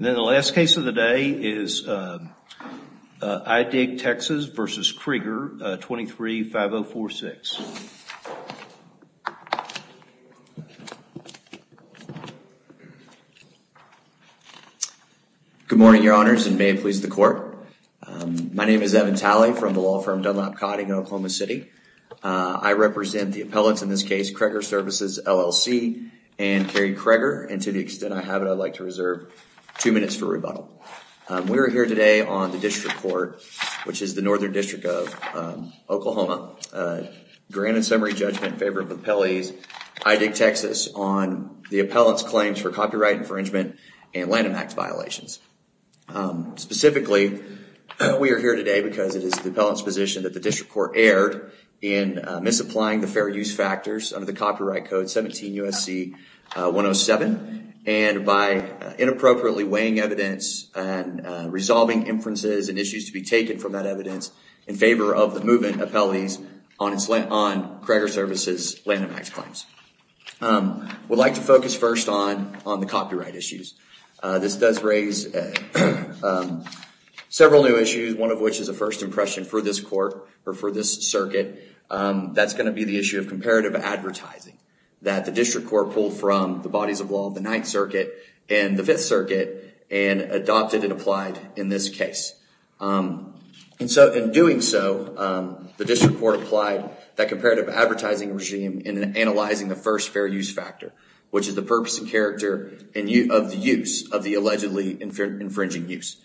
23-5046 Good morning your honors and may it please the court. My name is Evan Talley from the law firm Dunlop Cotting in Oklahoma City. I represent the appellants in this case Creager Services LLC and Carey Creager and to the extent I have it I'd like to reserve two minutes for rebuttal. We're here today on the district court which is the northern district of Oklahoma, grand and summary judgment in favor of the appellees I Dig Texas on the appellant's claims for copyright infringement and Lanham Act violations. Specifically we are here today because it is the appellant's position that the district court erred in misapplying the fair use factors under the Copyright Code 17 U.S.C. 107 and by inappropriately weighing evidence and resolving inferences and issues to be taken from that evidence in favor of the movement appellees on Creager Services Lanham Act claims. We'd like to focus first on the copyright issues. This does raise several new issues, one of which is a first impression for this court or for this circuit. That's going to be the issue of comparative advertising that the district court pulled from the bodies of law of the Ninth Circuit and the Fifth Circuit and adopted and applied in this case. In doing so, the district court applied that comparative advertising regime in analyzing the first fair use factor which is the purpose and character of the use of the allegedly infringing use.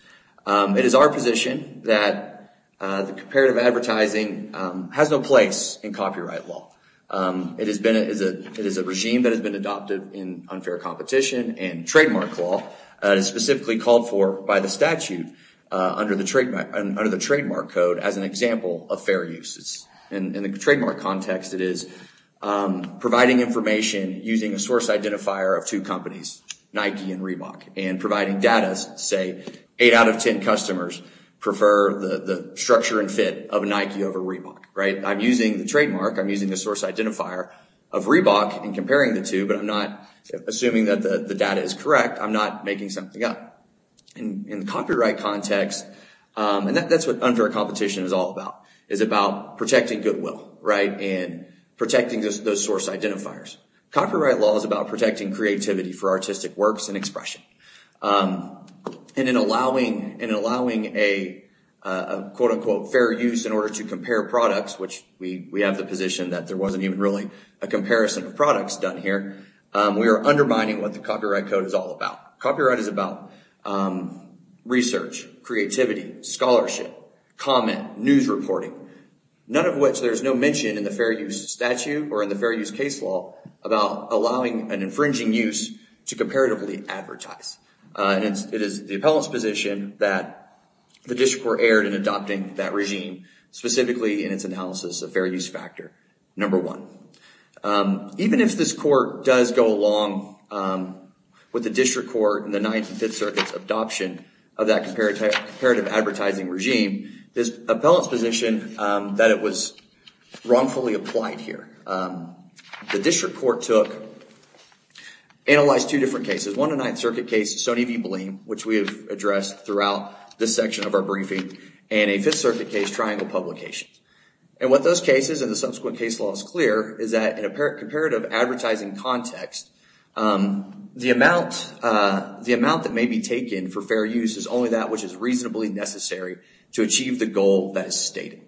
It is our position that the comparative advertising has no place in copyright law. It is a regime that has been adopted in unfair competition and trademark law that is specifically called for by the statute under the Trademark Code as an example of fair uses. In the trademark context, it is providing information using a source identifier of two eight out of ten customers prefer the structure and fit of a Nike over Reebok. I'm using the trademark, I'm using the source identifier of Reebok and comparing the two but I'm not assuming that the data is correct, I'm not making something up. In the copyright context, and that's what unfair competition is all about, is about protecting goodwill and protecting those source identifiers. Copyright law is about protecting creativity for artistic works and expression. In allowing a quote unquote fair use in order to compare products, which we have the position that there wasn't even really a comparison of products done here, we are undermining what the copyright code is all about. Copyright is about research, creativity, scholarship, comment, news reporting, none of which there's no mention in the fair use statute or in the fair use case law about allowing an infringing use to comparatively advertise. It is the appellant's position that the district court erred in adopting that regime, specifically in its analysis of fair use factor number one. Even if this court does go along with the district court in the Ninth and Fifth Circuits adoption of that comparative advertising regime, the appellant's position that it was wrongfully applied here. The district court took, analyzed two different cases, one of the Ninth Circuit cases, Stoney v. Bleen, which we have addressed throughout this section of our briefing, and a Fifth Circuit case, Triangle Publications. What those cases and the subsequent case law is clear is that in a comparative advertising context, the amount that may be taken for fair use is only that which is reasonably necessary to achieve the goal that is stated.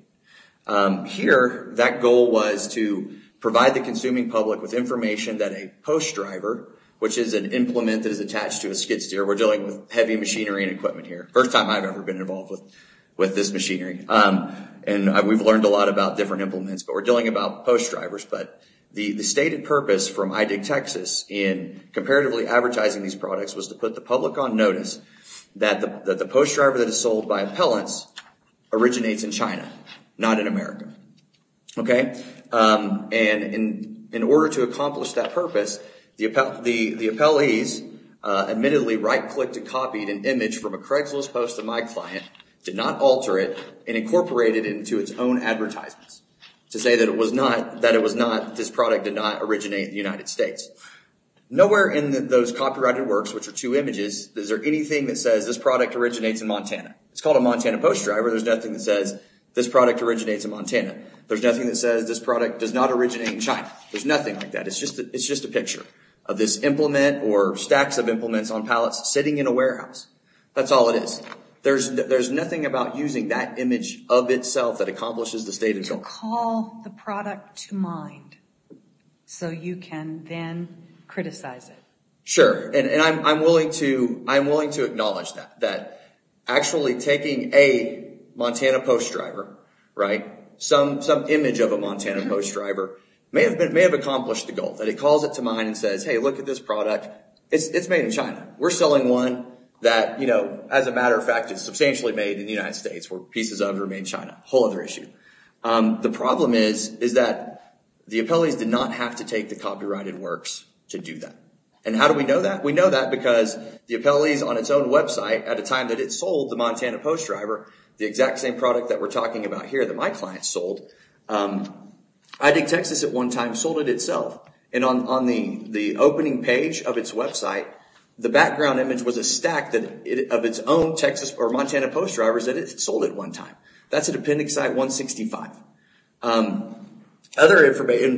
Here, that goal was to provide the consuming public with information that a post driver, which is an implement that is attached to a skid steer, we're dealing with heavy machinery and equipment here. First time I've ever been involved with this machinery. We've learned a lot about different implements, but we're dealing about post drivers. The stated purpose from iDigTexas in comparatively advertising these products was to put the not in America. In order to accomplish that purpose, the appellees admittedly right-clicked and copied an image from a Craigslist post of my client, did not alter it, and incorporated it into its own advertisements to say that it was not, this product did not originate in the United States. Nowhere in those copyrighted works, which are two images, is there anything that says this product originates in Montana. It's called a Montana post driver. There's nothing that says this product originates in Montana. There's nothing that says this product does not originate in China. There's nothing like that. It's just a picture of this implement or stacks of implements on pallets sitting in a warehouse. That's all it is. There's nothing about using that image of itself that accomplishes the stated goal. To call the product to mind so you can then criticize it. Sure. I'm willing to acknowledge that. Actually taking a Montana post driver, some image of a Montana post driver, may have accomplished the goal. That it calls it to mind and says, hey, look at this product. It's made in China. We're selling one that, as a matter of fact, is substantially made in the United States where pieces of it are made in China, a whole other issue. The problem is that the appellees did not have to take the copyrighted works to do that. How do we know that? We know that because the appellees on its own website, at a time that it sold the Montana post driver, the exact same product that we're talking about here that my client sold, iDigTexas at one time sold it itself. On the opening page of its website, the background image was a stack of its own Texas or Montana post drivers that it sold at one time. That's a dependent site 165.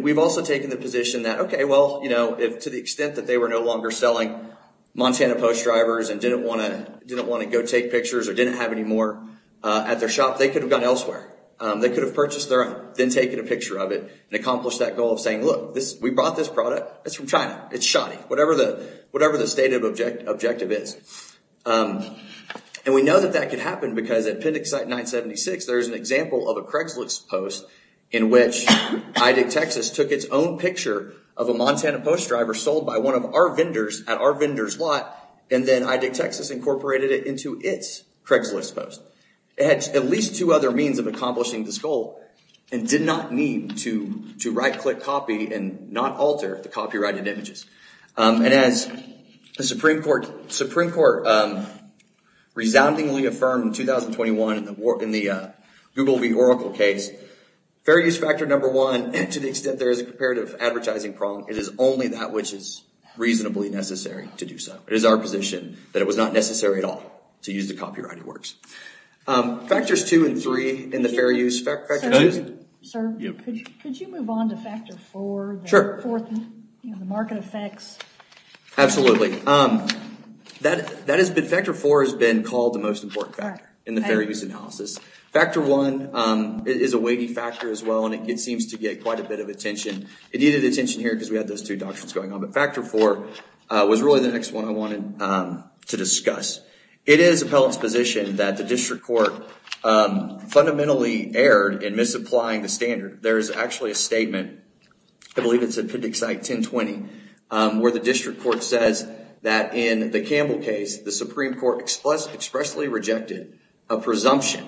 We've also taken the position that to the extent that they were no longer selling Montana post drivers and didn't want to go take pictures or didn't have any more at their shop, they could have gone elsewhere. They could have purchased their own, then taken a picture of it and accomplished that goal of saying, look, we brought this product. It's from China. It's shoddy, whatever the stated objective is. We know that that could happen because at Appendix Site 976, there's an example of a in which iDigTexas took its own picture of a Montana post driver sold by one of our vendors at our vendor's lot, and then iDigTexas incorporated it into its Craigslist post. It had at least two other means of accomplishing this goal and did not need to right-click As the Supreme Court resoundingly affirmed in 2021 in the Google v. Oracle case, fair use factor number one, to the extent there is a comparative advertising prong, it is only that which is reasonably necessary to do so. It is our position that it was not necessary at all to use the copyrighted works. Factors two and three in the fair use factor... Sir, could you move on to factor four? Sure. The market effects. Absolutely. Factor four has been called the most important factor in the fair use analysis. Factor one is a weighty factor as well, and it seems to get quite a bit of attention. It needed attention here because we had those two doctrines going on, but factor four was really the next one I wanted to discuss. It is appellate's position that the district court fundamentally erred in misapplying the standard. There is actually a statement, I believe it's in appendix 1020, where the district court says that in the Campbell case, the Supreme Court expressly rejected a presumption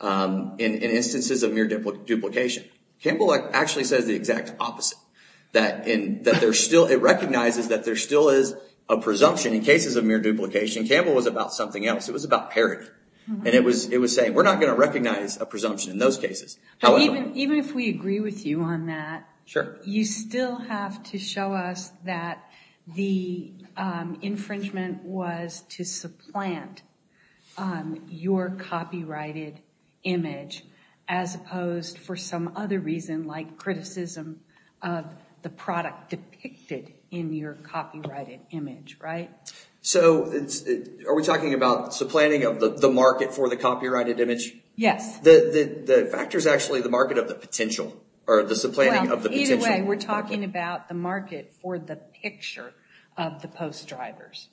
in instances of mere duplication. Campbell actually says the exact opposite, that it recognizes that there still is a presumption in cases of mere duplication. Campbell was about something else. It was about parity, and it was saying, we're not going to recognize a presumption in those cases. Even if we agree with you on that, you still have to show us that the infringement was to supplant your copyrighted image, as opposed, for some other reason, like criticism of the product depicted in your copyrighted image, right? Are we talking about supplanting of the market for the copyrighted image? Yes. The factor is actually the market of the potential, or the supplanting of the potential. Either way, we're talking about the market for the picture of the post drivers.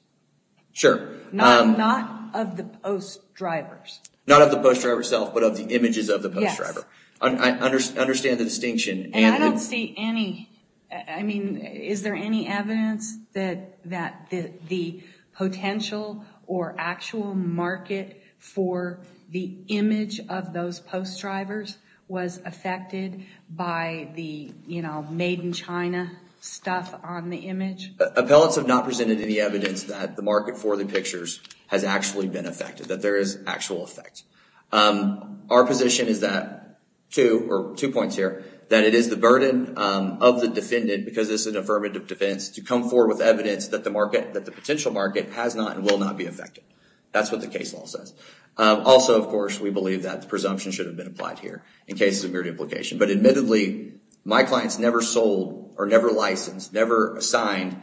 Sure. Not of the post drivers. Not of the post driver itself, but of the images of the post driver. Yes. I understand the distinction. I don't see any, I mean, is there any evidence that the potential or actual market for the image of those post drivers was affected by the, you know, made in China stuff on the image? Appellants have not presented any evidence that the market for the pictures has actually been affected, that there is actual effect. Our position is that, two points here, that it is the burden of the defendant, because this is an affirmative defense, to come forward with evidence that the potential market has not and will not be affected. That's what the case law says. Also, of course, we believe that the presumption should have been applied here, in case of mere duplication. But admittedly, my clients never sold, or never licensed, never assigned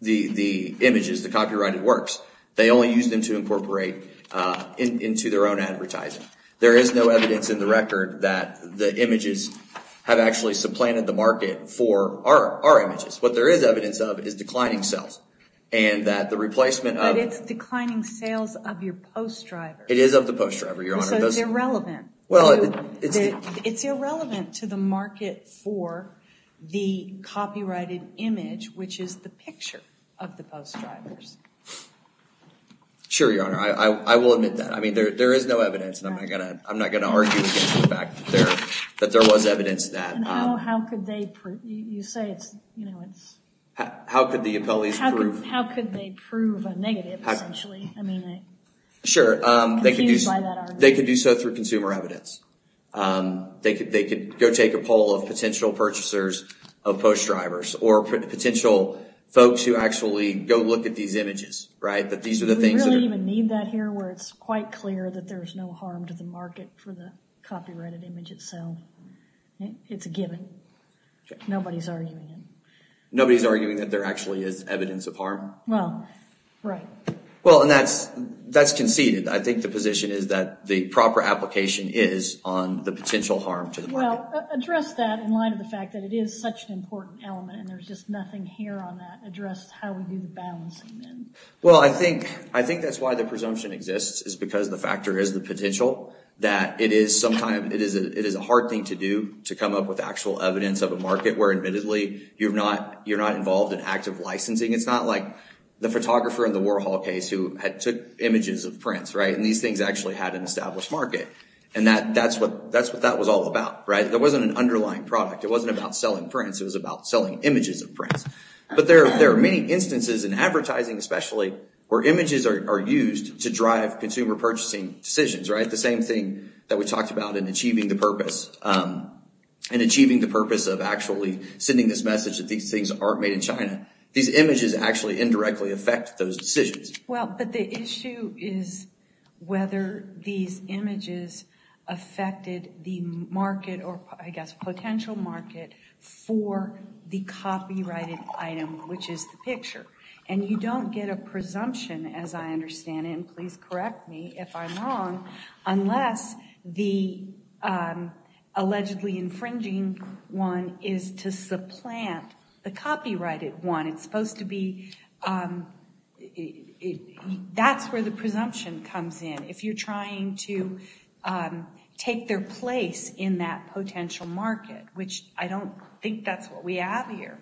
the images, the copyrighted works. They only used them to incorporate into their own advertising. There is no evidence in the record that the images have actually supplanted the market for our images. What there is evidence of is declining sales, and that the replacement of- It is of the post driver. It is of the post driver, Your Honor. So it's irrelevant. Well, it's- It's irrelevant to the market for the copyrighted image, which is the picture of the post drivers. Sure, Your Honor. I will admit that. I mean, there is no evidence, and I'm not going to argue against the fact that there was evidence that- And how could they prove, you say it's, you know, it's- How could the appellees prove- Sure. They could use- Confused by that argument. They could do so through consumer evidence. They could go take a poll of potential purchasers of post drivers, or potential folks who actually go look at these images, right? That these are the things that are- Do we really even need that here, where it's quite clear that there is no harm to the market for the copyrighted image itself? It's a given. Nobody's arguing it. Nobody's arguing that there actually is evidence of harm? Well, right. Well, and that's conceded. I think the position is that the proper application is on the potential harm to the market. Well, address that in light of the fact that it is such an important element, and there's just nothing here on that. Address how we do the balancing, then. Well, I think that's why the presumption exists, is because the factor is the potential, that it is a hard thing to do to come up with actual evidence of a market where, admittedly, you're not involved in active licensing. It's not like the photographer in the Warhol case who took images of prints, right? These things actually had an established market, and that's what that was all about, right? There wasn't an underlying product. It wasn't about selling prints. It was about selling images of prints. But there are many instances in advertising, especially, where images are used to drive consumer purchasing decisions, right? The same thing that we talked about in achieving the purpose of actually sending this message that these things aren't made in China. These images actually indirectly affect those decisions. Well, but the issue is whether these images affected the market or, I guess, potential market for the copyrighted item, which is the picture. And you don't get a presumption, as I understand it, and please correct me if I'm wrong, unless the allegedly infringing one is to supplant the copyrighted one. It's supposed to be... That's where the presumption comes in, if you're trying to take their place in that potential market, which I don't think that's what we have here.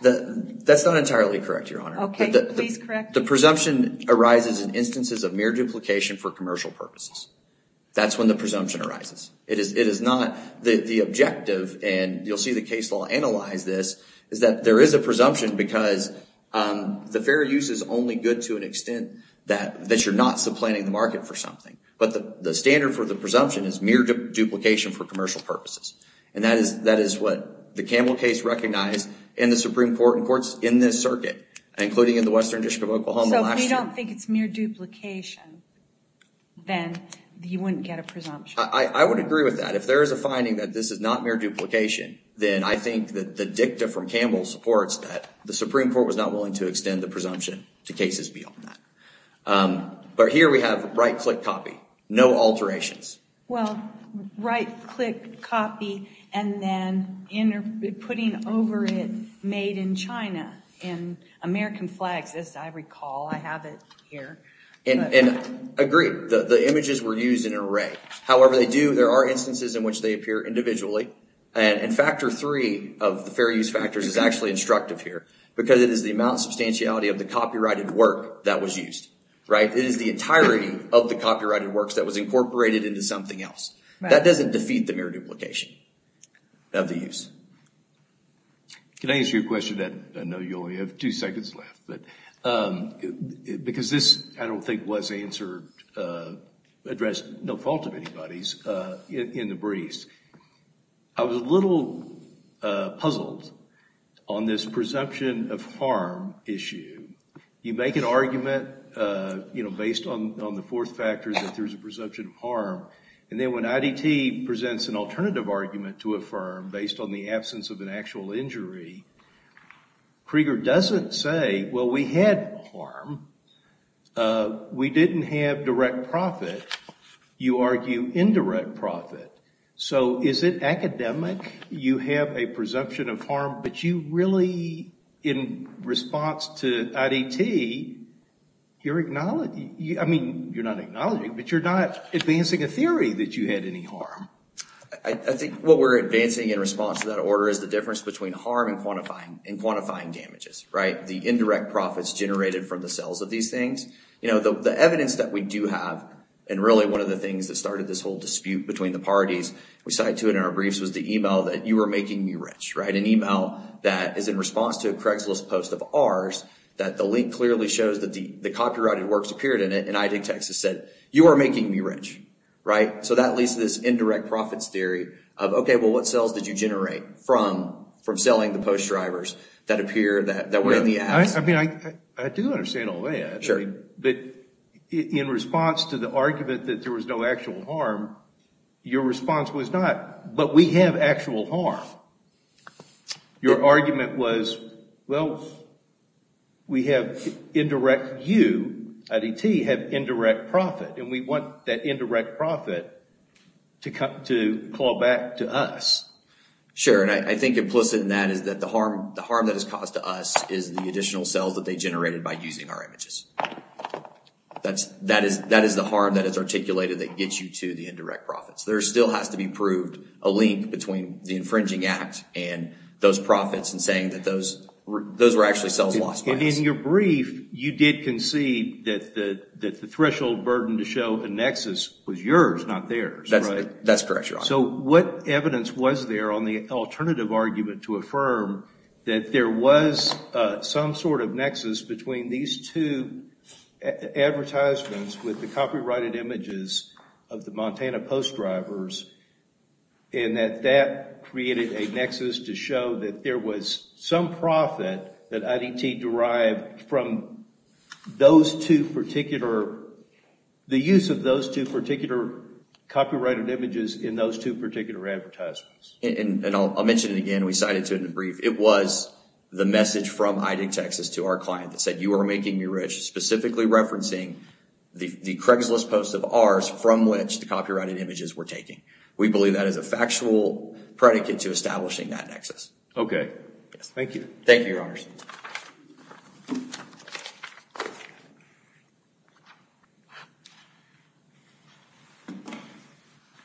That's not entirely correct, Your Honor. Okay, please correct me. The presumption arises in instances of mere duplication for commercial purposes. That's when the presumption arises. It is not... The objective, and you'll see the case law analyze this, is that there is a presumption because the fair use is only good to an extent that you're not supplanting the market for something. But the standard for the presumption is mere duplication for commercial purposes. And that is what the Campbell case recognized in the Supreme Court and courts in this circuit, including in the Western District of Oklahoma last year. So if we don't think it's mere duplication, then you wouldn't get a presumption. I would agree with that. If there is a finding that this is not mere duplication, then I think that the dicta from Campbell supports that the Supreme Court was not willing to extend the presumption to cases beyond that. But here we have right-click copy. No alterations. Well, right-click copy, and then putting over it, made in China, in American flags, as I have it here. And I agree. The images were used in an array. However they do, there are instances in which they appear individually, and factor three of the fair use factors is actually instructive here, because it is the amount of substantiality of the copyrighted work that was used. It is the entirety of the copyrighted works that was incorporated into something else. That doesn't defeat the mere duplication of the use. Can I answer your question? I know you only have two seconds left. Because this, I don't think, was answered, addressed, no fault of anybody's, in the briefs. I was a little puzzled on this presumption of harm issue. You make an argument based on the fourth factor that there's a presumption of harm, and then when IDT presents an alternative argument to affirm, based on the absence of an actual injury, Krieger doesn't say, well, we had harm. We didn't have direct profit. You argue indirect profit. So is it academic? You have a presumption of harm, but you really, in response to IDT, you're not advancing a I think what we're advancing in response to that order is the difference between harm and quantifying damages, the indirect profits generated from the sales of these things. The evidence that we do have, and really one of the things that started this whole dispute between the parties, we cited to it in our briefs, was the email that, you are making me rich, an email that is in response to a Craigslist post of ours that the link clearly shows that the copyrighted works appeared in it, and IDT said, you are making me rich. So that leads to this indirect profits theory of, okay, well, what sales did you generate from selling the post drivers that were in the ads? I do understand all that, but in response to the argument that there was no actual harm, your response was not, but we have actual harm. Your argument was, well, we have indirect, you, IDT, have indirect profit, and we want that indirect profit to call back to us. Sure, and I think implicit in that is that the harm that is caused to us is the additional sales that they generated by using our images. That is the harm that is articulated that gets you to the indirect profits. There still has to be proved a link between the infringing act and those profits and saying that those were actually sales lost by us. In your brief, you did concede that the threshold burden to show a nexus was yours, not theirs. That's correct, Your Honor. So what evidence was there on the alternative argument to affirm that there was some sort of nexus between these two advertisements with the copyrighted images of the Montana from those two particular, the use of those two particular copyrighted images in those two particular advertisements? And I'll mention it again. We cited it in the brief. It was the message from ID Texas to our client that said, you are making me rich, specifically referencing the Craigslist post of ours from which the copyrighted images were taken. We believe that is a factual predicate to establishing that nexus. Okay. Thank you. Thank you, Your Honors.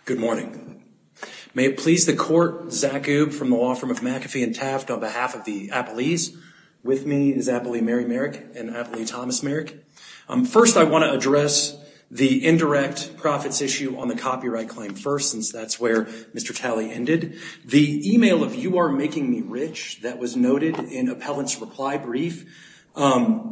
Good morning. May it please the court, Zach Goob from the law firm of McAfee and Taft on behalf of the appellees. With me is Appellee Mary Merrick and Appellee Thomas Merrick. First I want to address the indirect profits issue on the copyright claim first since that's where Mr. Talley ended. The email of you are making me rich that was noted in appellant's reply brief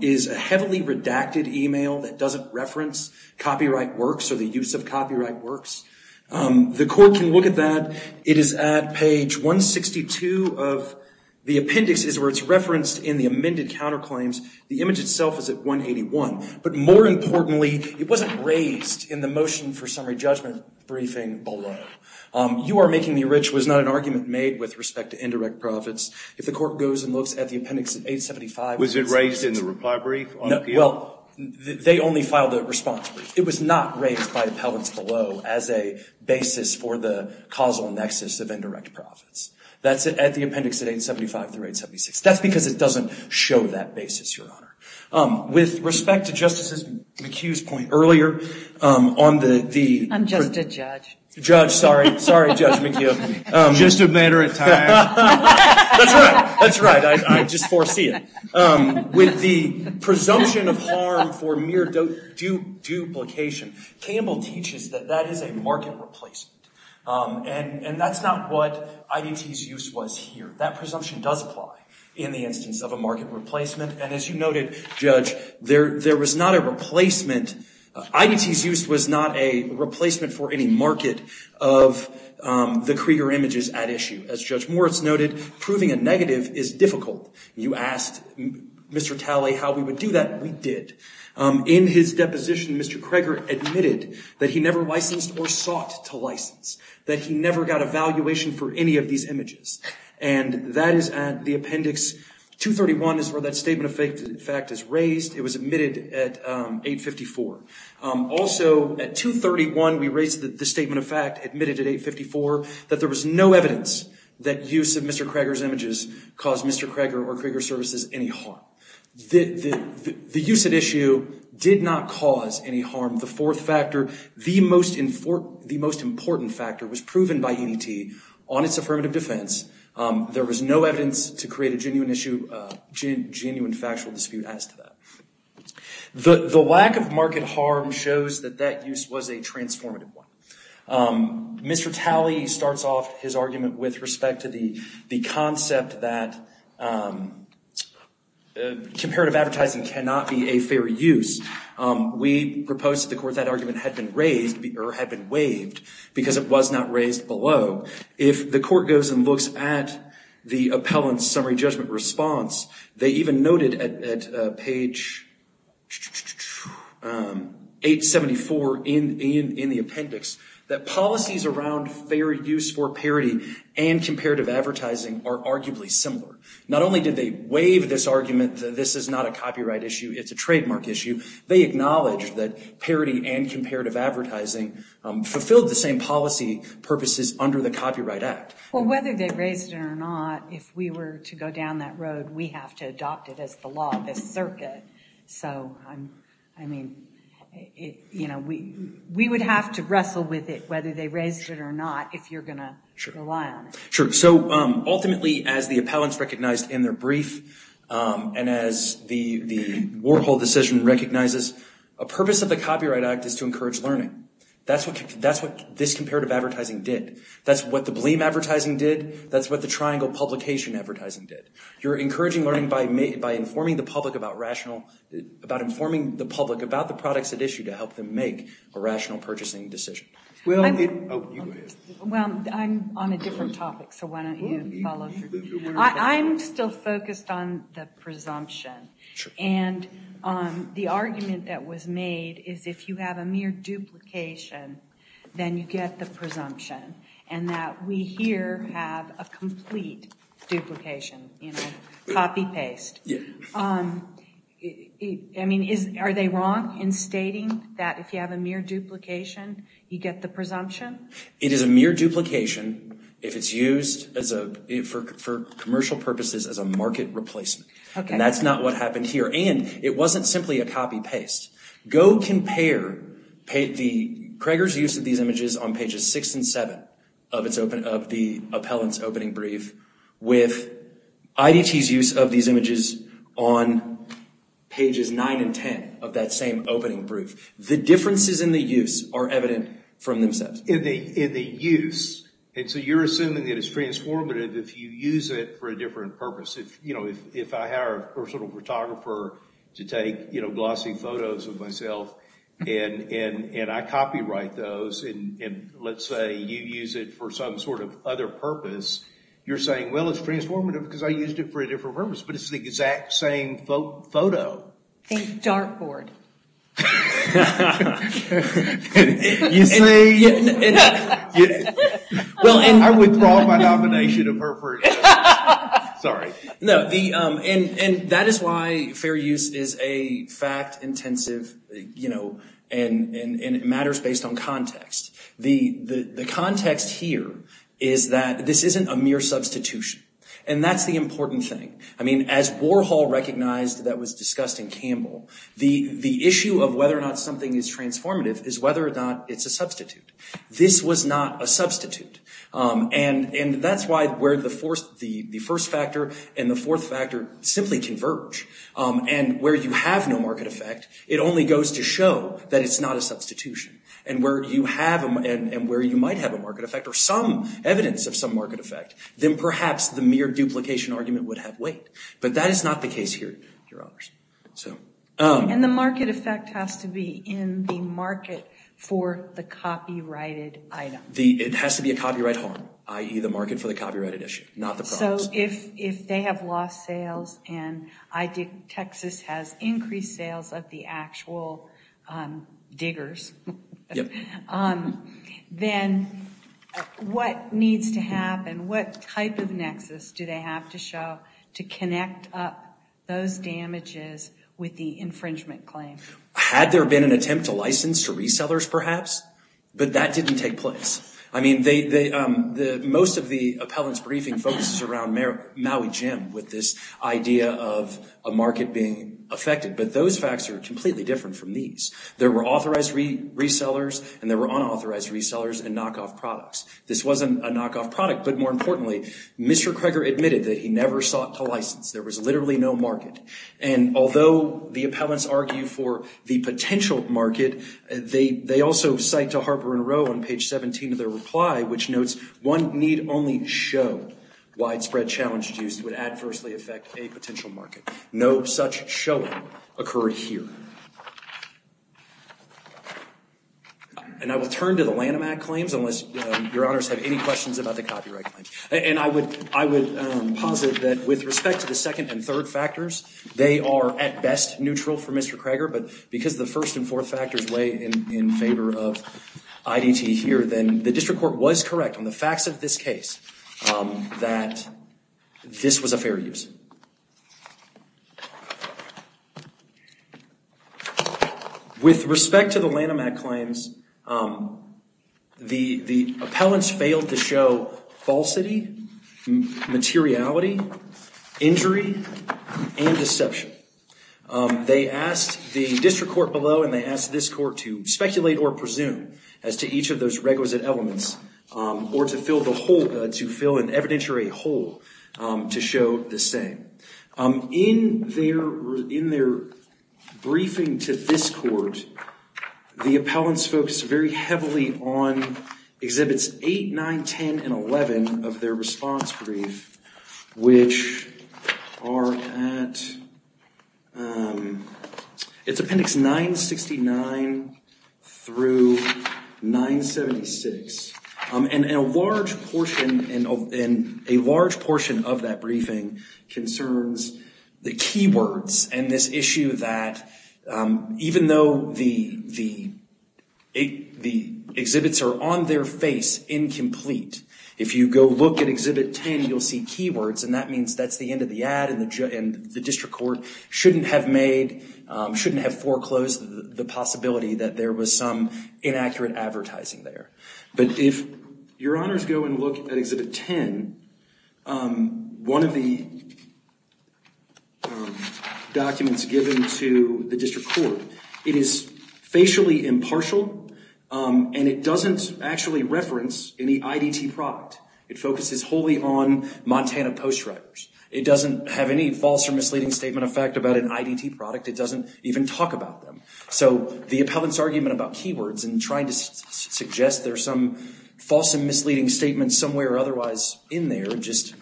is a heavily redacted email that doesn't reference Copyright Works or the use of Copyright Works. The court can look at that. It is at page 162 of the appendix is where it's referenced in the amended counterclaims. The image itself is at 181. But more importantly, it wasn't raised in the motion for summary judgment briefing below. You are making me rich was not an argument made with respect to indirect profits. If the court goes and looks at the appendix of 875. Was it raised in the reply brief? Well, they only filed the response brief. It was not raised by appellants below as a basis for the causal nexus of indirect profits. That's at the appendix of 875 through 876. That's because it doesn't show that basis, Your Honor. With respect to Justice McHugh's point earlier on the. I'm just a judge. Judge, sorry. Sorry, Judge McHugh. Just a matter of time. That's right. That's right. I just foresee it. With the presumption of harm for mere duplication. Campbell teaches that that is a market replacement. And that's not what IDT's use was here. That presumption does apply in the instance of a market replacement. And as you noted, Judge, there was not a replacement. IDT's use was not a replacement for any market of the Krieger images at issue. As Judge Moritz noted, proving a negative is difficult. You asked Mr. Talley how we would do that. We did. In his deposition, Mr. Krieger admitted that he never licensed or sought to license. That he never got a valuation for any of these images. And that is at the appendix 231 is where that statement of fact is raised. It was admitted at 854. Also at 231, we raised the statement of fact admitted at 854 that there was no evidence that use of Mr. Krieger's images caused Mr. Krieger or Krieger services any harm. The use at issue did not cause any harm. The fourth factor, the most important factor was proven by EDT on its affirmative defense. There was no evidence to create a genuine issue, genuine factual dispute as to that. The lack of market harm shows that that use was a transformative one. Mr. Talley starts off his argument with respect to the concept that comparative advertising cannot be a fair use. We proposed to the court that argument had been raised or had been waived because it was not raised below. If the court goes and looks at the appellant's summary judgment response, they even noted at page 874 in the appendix that policies around fair use for parity and comparative advertising are arguably similar. Not only did they waive this argument that this is not a copyright issue, it's a trademark issue. They acknowledged that parity and comparative advertising fulfilled the same policy purposes under the Copyright Act. Well, whether they raised it or not, if we were to go down that road, we have to adopt it as the law of this circuit. So, I mean, you know, we would have to wrestle with it whether they raised it or not if you're going to rely on it. Sure. So, ultimately, as the appellants recognized in their brief and as the Warhol decision recognizes, a purpose of the Copyright Act is to encourage learning. That's what this comparative advertising did. That's what the blame advertising did. That's what the triangle publication advertising did. You're encouraging learning by informing the public about the products at issue to help them make a rational purchasing decision. Well, I'm on a different topic, so why don't you follow through. I'm still focused on the presumption. And the argument that was made is if you have a mere duplication, then you get the presumption. And that we here have a complete duplication, you know, copy-paste. Yeah. I mean, are they wrong in stating that if you have a mere duplication, you get the presumption? It is a mere duplication if it's used for commercial purposes as a market replacement. Okay. And that's not what happened here. And it wasn't simply a copy-paste. Go compare Craiger's use of these images on pages six and seven of the appellant's opening brief with IDT's use of these images on pages nine and ten of that same opening brief. The differences in the use are evident from themselves. In the use. And so you're assuming that it's transformative if you use it for a different purpose. You know, if I hire a personal photographer to take, you know, glossy photos of myself, and I copyright those, and let's say you use it for some sort of other purpose, you're saying, well, it's transformative because I used it for a different purpose. But it's the exact same photo. Think dartboard. You see? I withdraw my nomination. Sorry. No. And that is why fair use is a fact-intensive, you know, and it matters based on context. The context here is that this isn't a mere substitution. And that's the important thing. I mean, as Warhol recognized that was discussed in Campbell, the issue of whether or not something is transformative is whether or not it's a substitute. This was not a substitute. And that's why where the first factor and the fourth factor simply converge. And where you have no market effect, it only goes to show that it's not a substitution. And where you have, and where you might have a market effect, or some evidence of some market effect, then perhaps the mere duplication argument would have weight. But that is not the case here, Your Honors. So. And the market effect has to be in the market for the copyrighted item. It has to be a copyright harm, i.e. the market for the copyrighted issue, not the product. So if they have lost sales and Texas has increased sales of the actual diggers, then what needs to happen? What type of nexus do they have to show to connect up those damages with the infringement claim? Had there been an attempt to license to resellers perhaps? But that didn't take place. I mean, most of the appellant's briefing focuses around Maui Gym with this idea of a market being affected. But those facts are completely different from these. There were authorized resellers and there were unauthorized resellers and knockoff products. This wasn't a knockoff product, but more importantly, Mr. Kreger admitted that he never sought to license. There was literally no market. And although the appellants argue for the potential market, they also cite to Harper & Row on page 17 of their reply, which notes, one need only show widespread challenged use would adversely affect a potential market. No such showing occurred here. And I will turn to the Lanham Act claims, unless your honors have any questions about the copyright claims. And I would, I would posit that with respect to the second and third factors, they are at best neutral for Mr. Kreger, but because the first and fourth factors weigh in favor of IDT here, then the district court was correct on the facts of this case that this was a fair use. With respect to the Lanham Act claims, the appellants failed to show falsity, materiality, injury, and deception. They asked the district court below and they asked this court to speculate or presume as to each of those requisite elements or to fill the hole, to fill an evidentiary hole to show the same. In their briefing to this court, the appellants focused very heavily on exhibits 8, 9, 10, and 11 of their response brief, which are at, it's appendix 969 through 976. And a large portion, and a large portion of that briefing concerns the keywords and this issue that even though the exhibits are on their face incomplete, if you go look at exhibit 10, you'll see keywords and that means that's the end of the ad and the district court shouldn't have made, shouldn't have foreclosed the possibility that there was some inaccurate advertising there. But if your honors go and look at exhibit 10, one of the documents given to the district court, it is facially impartial and it doesn't actually reference any IDT product. It focuses wholly on Montana postwriters. It doesn't have any false or misleading statement of fact about an IDT product. It doesn't even talk about them. So the appellant's argument about keywords and trying to suggest there's some false and misleading statements somewhere or otherwise in there just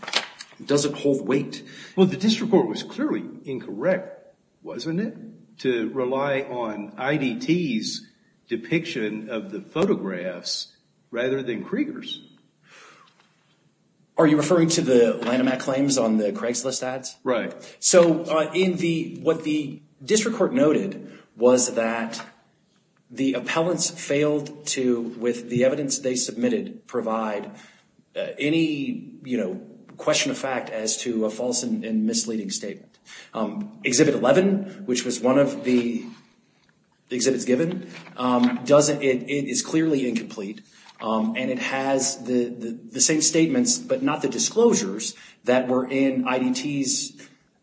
doesn't hold weight. Well, the district court was clearly incorrect, wasn't it? To rely on IDT's depiction of the photographs rather than Krieger's. Are you referring to the Lanham Act claims on the Craigslist ads? Right. So what the district court noted was that the appellants failed to, with the evidence they submitted, provide any question of fact as to a false and misleading statement. Exhibit 11, which was one of the exhibits given, it is clearly incomplete and it has the same statements, but not the disclosures that were in IDT's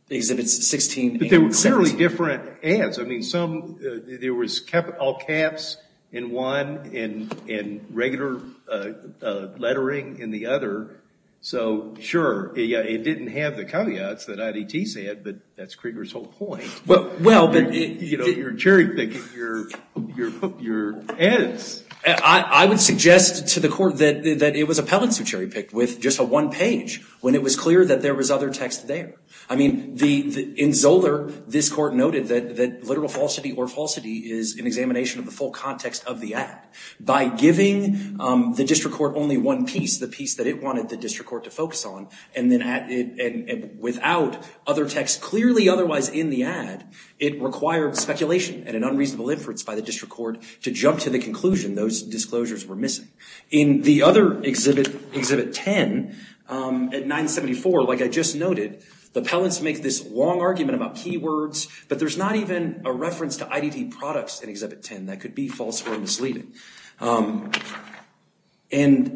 exhibits 16 and 17. But they were clearly different ads. I mean, there was all caps in one and regular lettering in the other. So sure, it didn't have the caveats that IDT said, but that's Krieger's whole point. You're cherry picking your ads. I would suggest to the court that it was appellants who cherry picked with just a one page when it was clear that there was other text there. I mean, in Zoeller, this court noted that literal falsity or falsity is an examination of the full context of the ad. By giving the district court only one piece, the piece that it wanted the district court to focus on, and without other text clearly otherwise in the ad, it required speculation and an unreasonable inference by the district court to jump to the conclusion those disclosures were missing. In the other exhibit, Exhibit 10, at 974, like I just noted, the appellants make this long argument about keywords, but there's not even a reference to IDT products in Exhibit 10 that could be false or misleading. And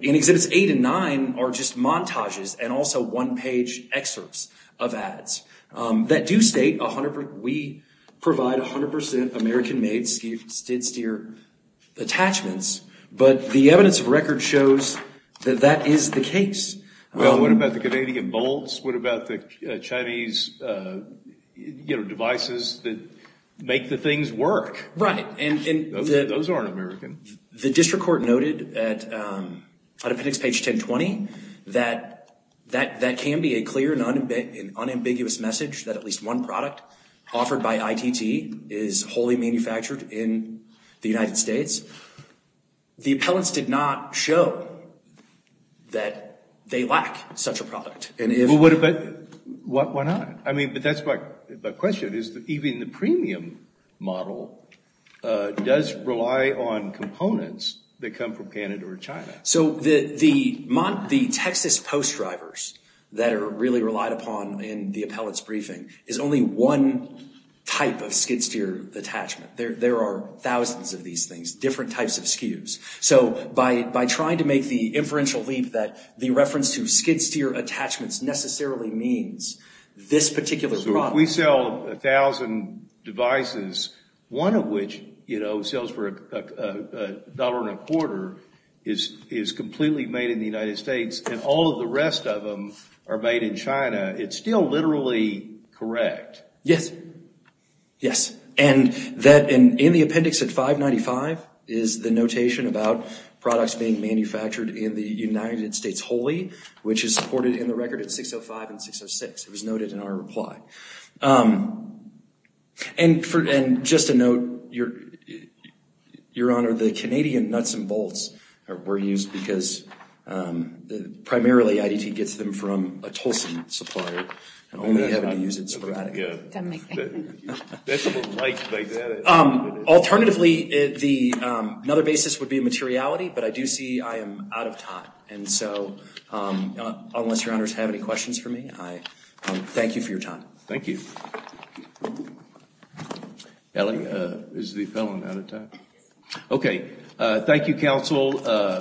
in Exhibits 8 and 9 are just montages and also one page excerpts of ads that do state we provide 100% American-made skid-steer attachments, but the evidence of record shows that that is the case. Well, what about the Canadian bolts? What about the Chinese devices that make the things work? Right. Those aren't American. The district court noted at appendix page 1020 that that can be a clear and unambiguous message that at least one product offered by ITT is wholly manufactured in the United States. The appellants did not show that they lack such a product. But why not? I mean, but that's my question. Even the premium model does rely on components that come from Canada or China. So the Texas post drivers that are really relied upon in the appellant's briefing is only one type of skid-steer attachment. There are thousands of these things, different types of SKUs. So by trying to make the inferential leap that the reference to skid-steer attachments necessarily means this particular product... So if we sell 1,000 devices, one of which, you know, sells for a dollar and a quarter, is completely made in the United States and all of the rest of them are made in China, it's still literally correct. Yes. Yes. And in the appendix at 595 is the notation about products being manufactured in the United States wholly, which is supported in the record at 605 and 606. It was noted in our reply. And just a note, Your Honor, the Canadian nuts and bolts were used because primarily IDT gets them from a Tulsan supplier and only having to use it sporadically. Alternatively, another basis would be materiality, but I do see I am out of time. And so unless Your Honors have any questions for me, I thank you for your time. Thank you. Ellie, is the appellant out of time? Okay. Thank you, counsel.